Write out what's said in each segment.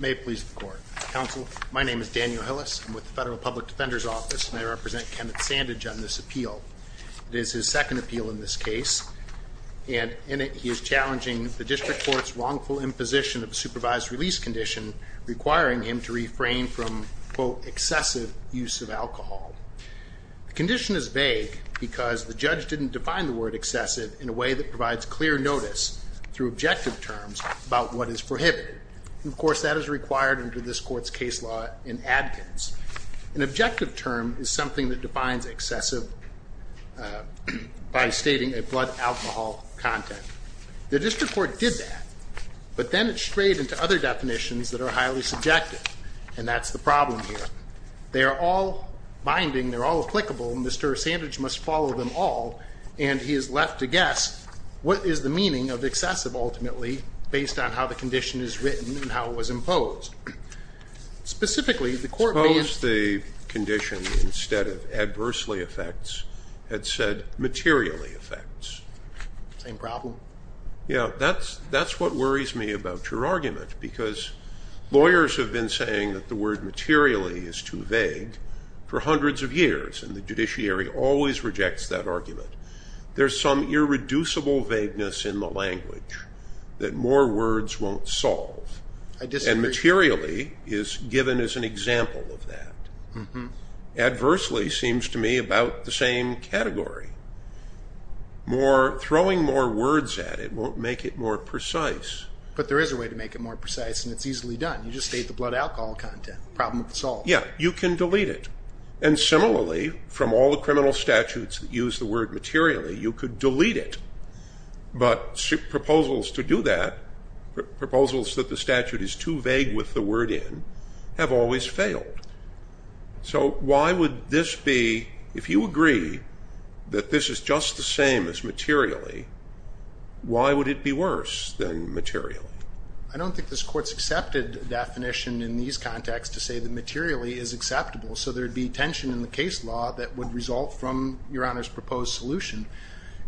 May it please the Court. Counsel, my name is Daniel Hillis. I'm with the Federal Public Defender's Office, and I represent Kenneth Sandidge on this appeal. It is his second appeal in this case, and in it he is challenging the District Court's wrongful imposition of a supervised release condition requiring him to refrain from, quote, excessive use of alcohol. The condition is vague because the judge didn't define the word excessive in a way that provides clear notice through objective terms about what is prohibited. Of course, that is required under this Court's case law in Adkins. An objective term is something that defines excessive by stating a blood alcohol content. The District Court did that, but then it strayed into other definitions that are highly subjective, and that's the problem here. They are all binding, they're all applicable, and Mr. Sandidge must follow them all, and he is left to guess what is the meaning of excessive ultimately based on how the condition is written and how it was imposed. Specifically, the Court may Suppose the condition instead of adversely affects had said materially affects. Same problem? Yeah, that's what worries me about your argument, because lawyers have been saying that the word materially is too vague for hundreds of years, and the judiciary always rejects that argument. There's some irreducible vagueness in the language that more words won't solve. I disagree. And materially is given as an example of that. Adversely seems to me about the same category. Throwing more words at it won't make it more precise. But there is a way to make it more precise, and it's easily done. You just state the blood alcohol content. Problem solved. Yeah, you can delete it. And similarly, from all the criminal statutes that use the word materially, you could delete it. But proposals to do that, proposals that the statute is too vague with the word in, have always failed. So why would this be, if you agree that this is just the same as materially, why would it be worse than materially? I don't think this Court's accepted definition in these contexts to say that materially is acceptable, so there would be tension in the case law that would result from your Honor's proposed solution.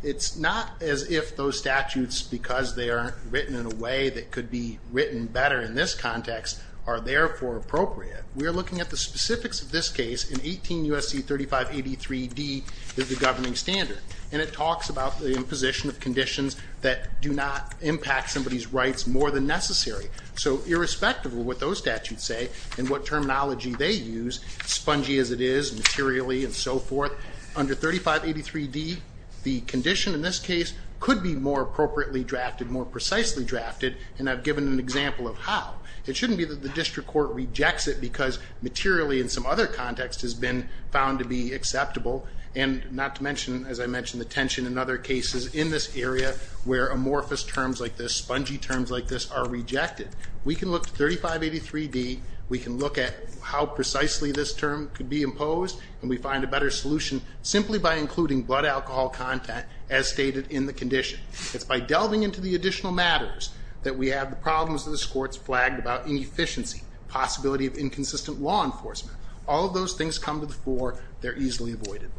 It's not as if those statutes, because they aren't written in a way that could be written better in this context, are therefore appropriate. We are looking at the specifics of this case in 18 U.S.C. 3583d, the governing standard. And it talks about the imposition of conditions that do not impact somebody's rights more than necessary. So irrespective of what those statutes say and what terminology they use, spongy as it is materially and so forth, under 3583d, the condition in this case could be more appropriately drafted, more precisely drafted, and I've given an example of how. It shouldn't be that the District Court rejects it because materially in some other context has been found to be acceptable, and not to mention, as I mentioned, the tension in other cases in this area where amorphous terms like this, spongy terms like this, are rejected. We can look to 3583d, we can look at how precisely this term could be imposed, and we find a better solution simply by including blood alcohol content as stated in the condition. It's by delving into the additional matters that we have the problems that this Court has flagged about inefficiency, possibility of inconsistent law enforcement. All of those things come to the fore, they're easily avoided.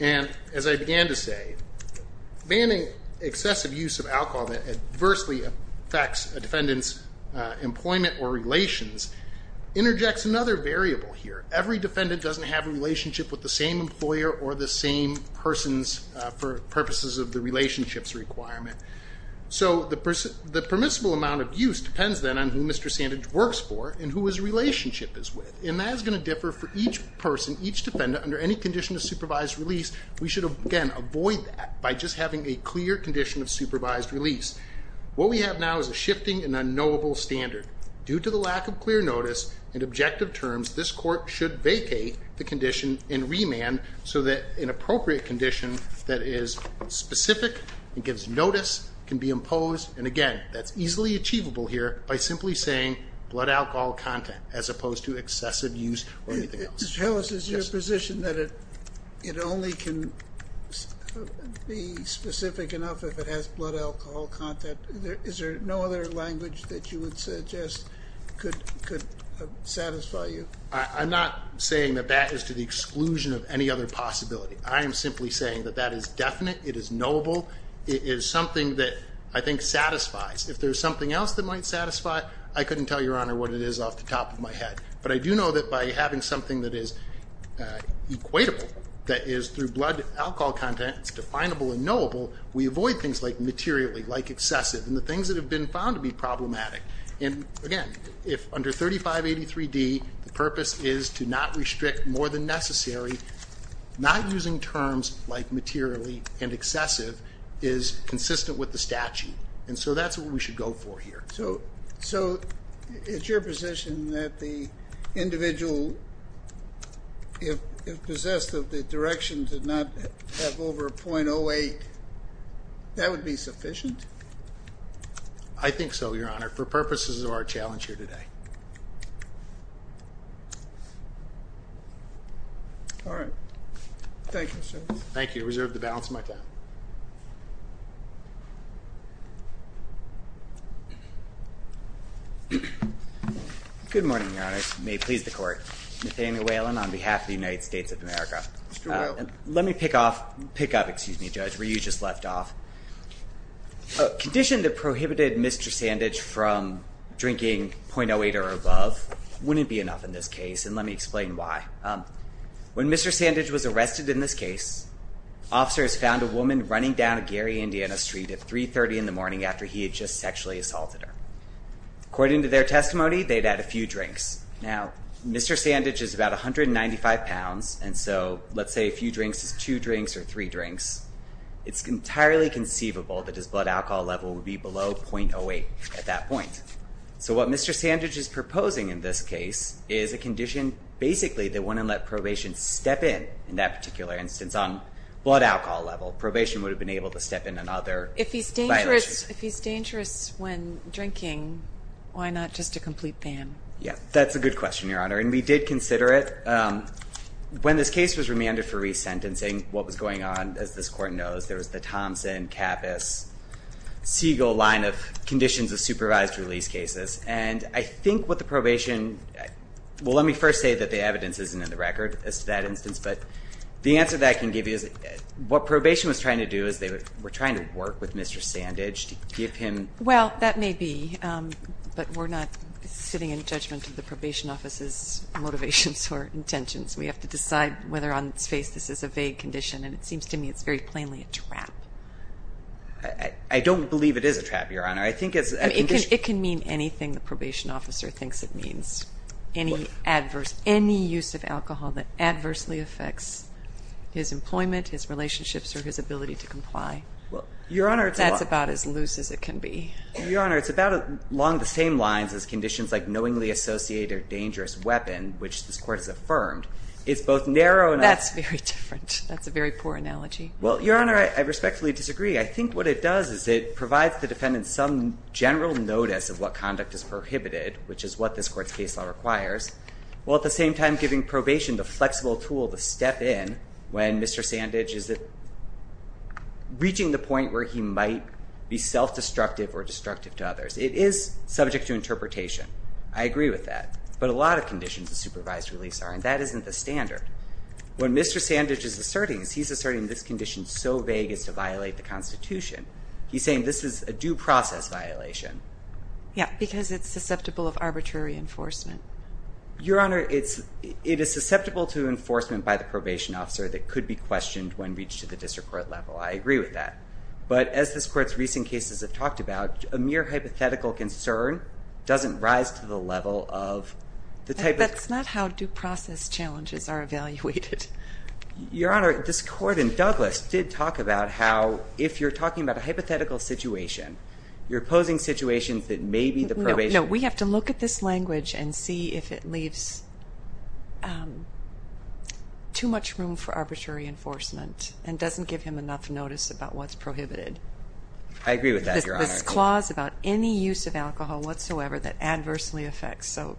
And as I began to say, banning excessive use of alcohol that adversely affects a defendant's employment or relations interjects another variable here. Every defendant doesn't have a relationship with the same employer or the same persons for purposes of the relationships requirement. So, the permissible amount of use depends then on who Mr. Sandage works for and who his relationship is with, and that is going to differ for each person, each defendant, under any condition of supervised release. We should, again, avoid that by just having a clear condition of supervised release. What we have now is a shifting and unknowable standard. Due to the lack of clear notice and objective terms, this Court should vacate the condition and remand so that an appropriate condition that is specific and gives notice can be imposed, and again, that's easily achievable here by simply saying blood alcohol content as opposed to excessive use or anything else. Mr. Chellis, is your position that it only can be specific enough if it has blood alcohol content? Is there no other language that you would suggest could satisfy you? I'm not saying that that is to the exclusion of any other possibility. I am simply saying that that is definite, it is knowable, it is something that I think satisfies. If there's something else that might satisfy, I couldn't tell Your Honor what it is off the top of my head. But I do know that by having something that is equatable, that is through blood alcohol content, it's definable and knowable, we avoid things like materially, like excessive, and the things that have been found to be problematic. And again, if under 3583D the purpose is to not restrict more than necessary, not using terms like materially and excessive is consistent with the statute. And so that's what we should go for here. So it's your position that the individual, if possessed of the direction to not have over 0.08, that would be sufficient? I think so, Your Honor, for purposes of our challenge here today. All right. Thank you, Mr. Chellis. Thank you. I reserve the balance of my time. Good morning, Your Honor. May it please the Court. Nathaniel Whalen on behalf of the United States of America. Mr. Whalen. Let me pick up where you just left off. A condition that prohibited Mr. Sandage from drinking 0.08 or above wouldn't be enough in this case, and let me explain why. When Mr. Sandage was arrested in this case, officers found a woman running down Gary, Indiana Street at 3.30 in the morning after he had just sexually assaulted her. According to their testimony, they'd had a few drinks. Now, Mr. Sandage is about 195 pounds, and so let's say a few drinks is two drinks or three drinks. It's entirely conceivable that his blood alcohol level would be below 0.08 at that point. So what Mr. Sandage is proposing in this case is a condition basically that wouldn't let probation step in, in that particular instance, on blood alcohol level. Probation would have been able to step in on other violations. If he's dangerous when drinking, why not just a complete ban? Yeah, that's a good question, Your Honor, and we did consider it. When this case was remanded for resentencing, what was going on, as this Court knows, there was the Thompson, Kappus, Siegel line of conditions of supervised release cases, and I think what the probation ñ well, let me first say that the evidence isn't in the record as to that instance, but the answer that I can give you is what probation was trying to do is they were trying to work with Mr. Sandage to give him. Well, that may be, but we're not sitting in judgment of the probation office's motivations or intentions. We have to decide whether on its face this is a vague condition, and it seems to me it's very plainly a trap. I don't believe it is a trap, Your Honor. I think it's a condition. It can mean anything the probation officer thinks it means, any adverse, any use of alcohol that adversely affects his employment, his relationships, or his ability to comply. Well, Your Honor, it's a lot. That's about as loose as it can be. Your Honor, it's about along the same lines as conditions like knowingly associated or dangerous weapon, which this Court has affirmed, is both narrow andó That's very different. That's a very poor analogy. Well, Your Honor, I respectfully disagree. I think what it does is it provides the defendant some general notice of what conduct is prohibited, which is what this Court's case law requires, while at the same time giving probation the flexible tool to step in when Mr. Sandage is reaching the point where he might be self-destructive or destructive to others. It is subject to interpretation. I agree with that. But a lot of conditions of supervised release are, and that isn't the standard. What Mr. Sandage is asserting is he's asserting this condition is so vague it's to violate the Constitution. He's saying this is a due process violation. Yeah, because it's susceptible of arbitrary enforcement. Your Honor, it is susceptible to enforcement by the probation officer that could be questioned when reached at the district court level. I agree with that. But as this Court's recent cases have talked about, a mere hypothetical concern doesn't rise to the level of the type of ---- That's not how due process challenges are evaluated. Your Honor, this Court in Douglas did talk about how if you're talking about a hypothetical situation, you're opposing situations that may be the probation. No, we have to look at this language and see if it leaves too much room for arbitrary enforcement and doesn't give him enough notice about what's prohibited. I agree with that, Your Honor. There's a clause about any use of alcohol whatsoever that adversely affects. So,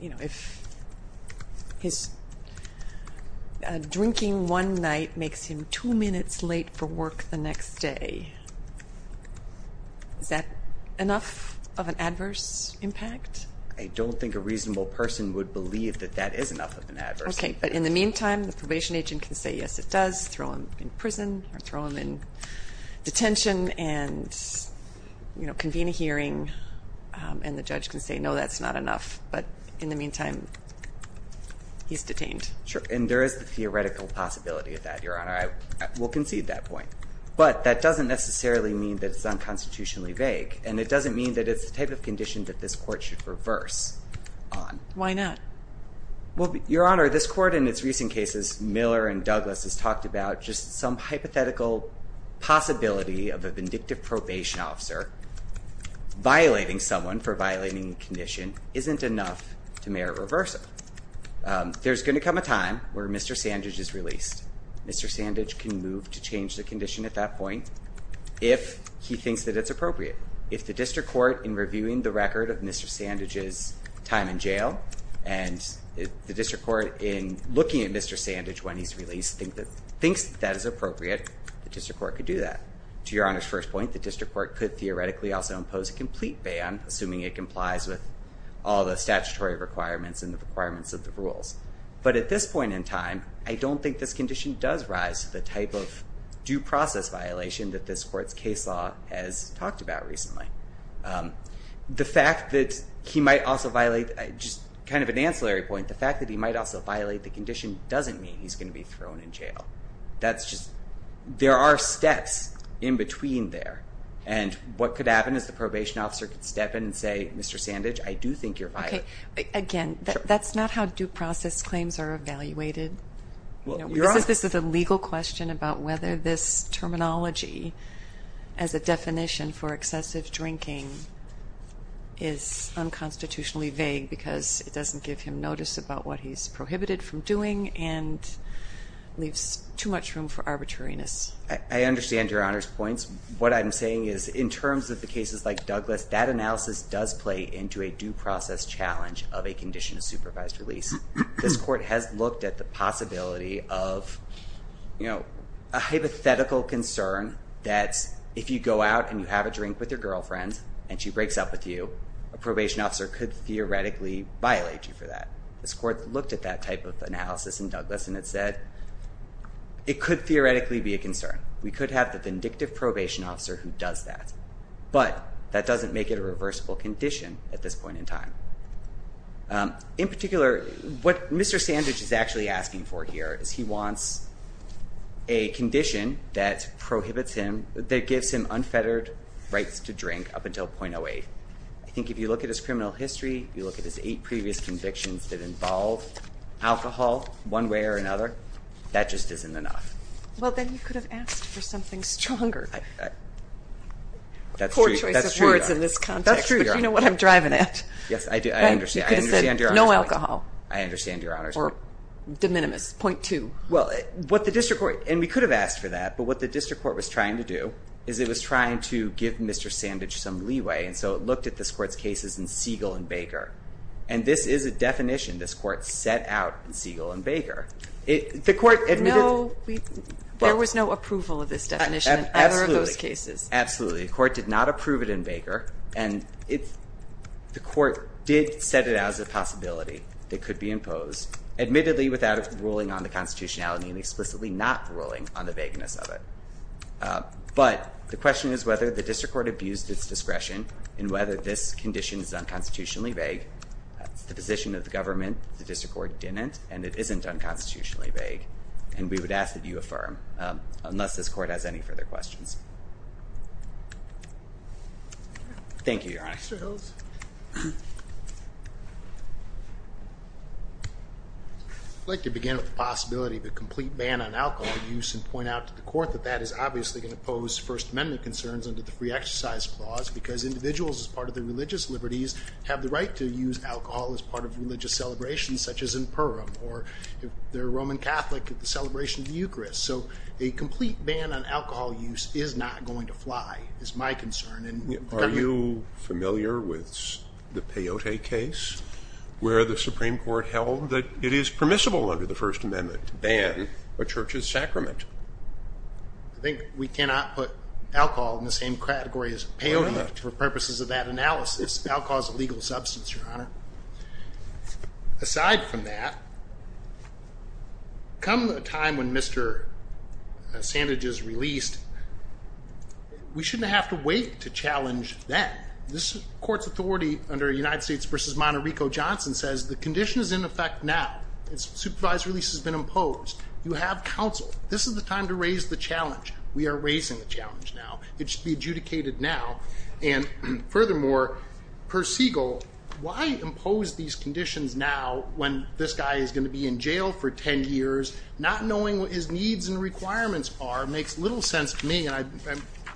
you know, if his drinking one night makes him two minutes late for work the next day, is that enough of an adverse impact? I don't think a reasonable person would believe that that is enough of an adverse impact. Okay, but in the meantime, the probation agent can say, yes, it does, or throw him in prison or throw him in detention and, you know, convene a hearing, and the judge can say, no, that's not enough. But in the meantime, he's detained. Sure, and there is the theoretical possibility of that, Your Honor. I will concede that point. But that doesn't necessarily mean that it's unconstitutionally vague, and it doesn't mean that it's the type of condition that this Court should reverse on. Why not? Well, Your Honor, this Court in its recent cases, Miller and Douglas, has talked about just some hypothetical possibility of a vindictive probation officer violating someone for violating a condition isn't enough to merit reversal. There's going to come a time where Mr. Sandage is released. Mr. Sandage can move to change the condition at that point if he thinks that it's appropriate. If the District Court, in reviewing the record of Mr. Sandage's time in jail, and the District Court, in looking at Mr. Sandage when he's released, thinks that that is appropriate, the District Court could do that. To Your Honor's first point, the District Court could theoretically also impose a complete ban, assuming it complies with all the statutory requirements and the requirements of the rules. But at this point in time, I don't think this condition does rise to the type of due process violation that this Court's case law has talked about recently. The fact that he might also violate, just kind of an ancillary point, the fact that he might also violate the condition doesn't mean he's going to be thrown in jail. That's just, there are steps in between there. And what could happen is the probation officer could step in and say, Mr. Sandage, I do think you're violating. Okay, again, that's not how due process claims are evaluated. This is a legal question about whether this terminology, as a definition for excessive drinking, is unconstitutionally vague because it doesn't give him notice about what he's prohibited from doing and leaves too much room for arbitrariness. I understand Your Honor's points. What I'm saying is, in terms of the cases like Douglas, that analysis does play into a due process challenge of a condition of supervised release. This Court has looked at the possibility of a hypothetical concern that if you go out and you have a drink with your girlfriend and she breaks up with you, a probation officer could theoretically violate you for that. This Court looked at that type of analysis in Douglas and it said, it could theoretically be a concern. We could have the vindictive probation officer who does that, but that doesn't make it a reversible condition at this point in time. In particular, what Mr. Sandidge is actually asking for here is he wants a condition that prohibits him, that gives him unfettered rights to drink up until .08. I think if you look at his criminal history, if you look at his eight previous convictions that involve alcohol one way or another, that just isn't enough. Well, then you could have asked for something stronger. That's true, Your Honor. Poor choice of words in this context, but you know what I'm driving at. Yes, I understand. You could have said, no alcohol. I understand, Your Honor. Or de minimis, .2. Well, what the district court, and we could have asked for that, but what the district court was trying to do is it was trying to give Mr. Sandidge some leeway, and so it looked at this Court's cases in Siegel and Baker. And this is a definition this Court set out in Siegel and Baker. No, there was no approval of this definition in either of those cases. Absolutely. The Court did not approve it in Baker, and the Court did set it as a possibility that could be imposed, admittedly without ruling on the constitutionality and explicitly not ruling on the vagueness of it. But the question is whether the district court abused its discretion in whether this condition is unconstitutionally vague. It's the position of the government that the district court didn't, and it isn't unconstitutionally vague, and we would ask that you affirm, unless this Court has any further questions. Thank you, Your Honor. Mr. Hills. I'd like to begin with the possibility of a complete ban on alcohol use and point out to the Court that that is obviously going to pose First Amendment concerns under the free exercise clause because individuals, as part of their religious liberties, have the right to use alcohol as part of religious celebrations, such as in Purim, or if they're a Roman Catholic at the celebration of the Eucharist. So a complete ban on alcohol use is not going to fly is my concern. Are you familiar with the Peyote case where the Supreme Court held that it is permissible under the First Amendment to ban a church's sacrament? I think we cannot put alcohol in the same category as peyote for purposes of that analysis. Alcohol is a legal substance, Your Honor. Aside from that, come a time when Mr. Sandage is released, we shouldn't have to wait to challenge that. This Court's authority under United States v. Monterico-Johnson says the condition is in effect now. Its supervised release has been imposed. You have counsel. This is the time to raise the challenge. We are raising the challenge now. It should be adjudicated now. Furthermore, per Siegel, why impose these conditions now when this guy is going to be in jail for 10 years, not knowing what his needs and requirements are makes little sense to me. I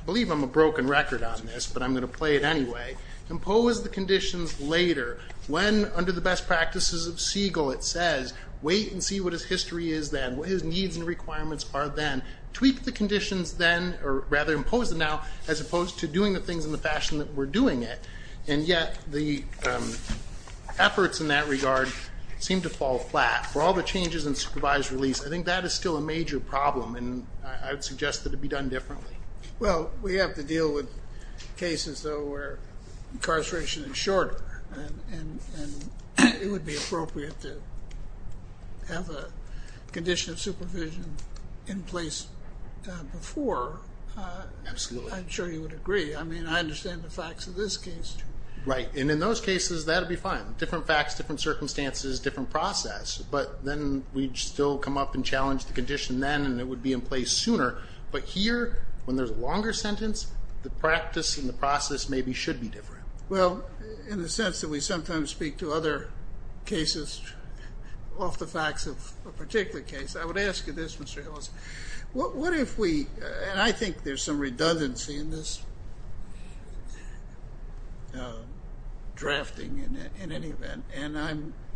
believe I'm a broken record on this, but I'm going to play it anyway. Impose the conditions later. When, under the best practices of Siegel, it says, wait and see what his history is then, what his needs and requirements are then. Tweak the conditions then, or rather impose them now, as opposed to doing the things in the fashion that we're doing it, and yet the efforts in that regard seem to fall flat. For all the changes in supervised release, I think that is still a major problem, and I would suggest that it be done differently. Well, we have to deal with cases, though, where incarceration is shorter, and it would be appropriate to have a condition of supervision in place before. Absolutely. I'm sure you would agree. I mean, I understand the facts of this case. Right, and in those cases, that would be fine. Different facts, different circumstances, different process, but then we'd still come up and challenge the condition then, and it would be in place sooner. But here, when there's a longer sentence, the practice and the process maybe should be different. Well, in the sense that we sometimes speak to other cases off the facts of a particular case. I would ask you this, Mr. Hillis. And I think there's some redundancy in this drafting in any event, and I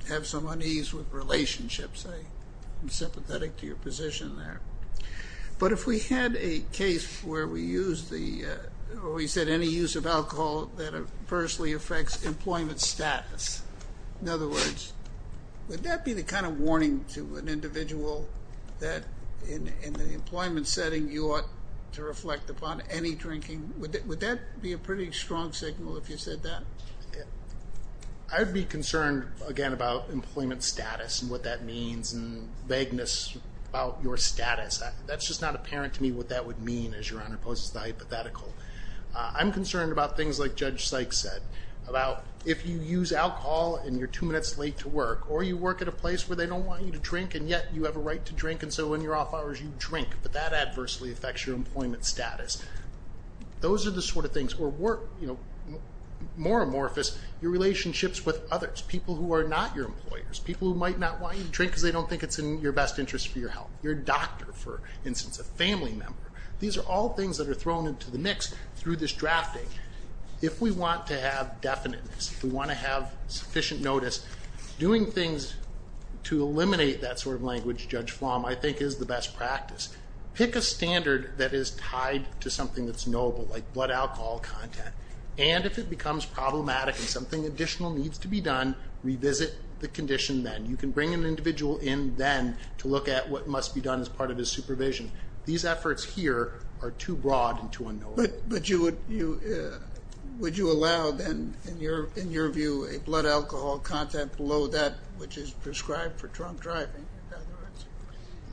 have some unease with relationships. I'm sympathetic to your position there. But if we had a case where we said any use of alcohol that adversely affects employment status, in other words, would that be the kind of warning to an individual that in the employment setting you ought to reflect upon any drinking? Would that be a pretty strong signal if you said that? I would be concerned, again, about employment status and what that means and vagueness about your status. That's just not apparent to me what that would mean, as Your Honor poses the hypothetical. I'm concerned about things like Judge Sykes said, about if you use alcohol and you're two minutes late to work, or you work at a place where they don't want you to drink and yet you have a right to drink and so in your off hours you drink, but that adversely affects your employment status. Those are the sort of things. Or more amorphous, your relationships with others, people who are not your employers, people who might not want you to drink because they don't think it's in your best interest for your health, your doctor, for instance, a family member. These are all things that are thrown into the mix through this drafting. If we want to have definiteness, if we want to have sufficient notice, doing things to eliminate that sort of language, Judge Flom, I think is the best practice. Pick a standard that is tied to something that's knowable, like blood alcohol content, and if it becomes problematic and something additional needs to be done, revisit the condition then. You can bring an individual in then to look at what must be done as part of his supervision. These efforts here are too broad and too unknowable. But would you allow then, in your view, a blood alcohol content below that which is prescribed for drunk driving?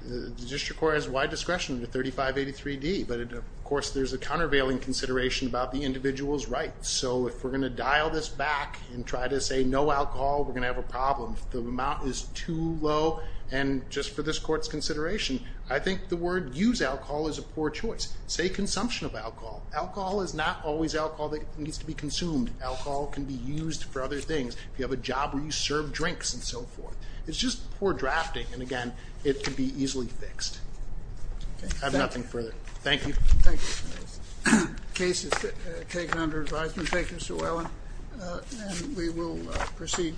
The district court has wide discretion under 3583D, but of course there's a countervailing consideration about the individual's rights. So if we're going to dial this back and try to say no alcohol, we're going to have a problem. If the amount is too low, and just for this court's consideration, I think the word use alcohol is a poor choice. Say consumption of alcohol. Alcohol is not always alcohol that needs to be consumed. Alcohol can be used for other things. If you have a job where you serve drinks and so forth. It's just poor drafting. And again, it can be easily fixed. I have nothing further. Thank you. The case is taken under advisement. Thank you, Mr. Whelan. And we will proceed.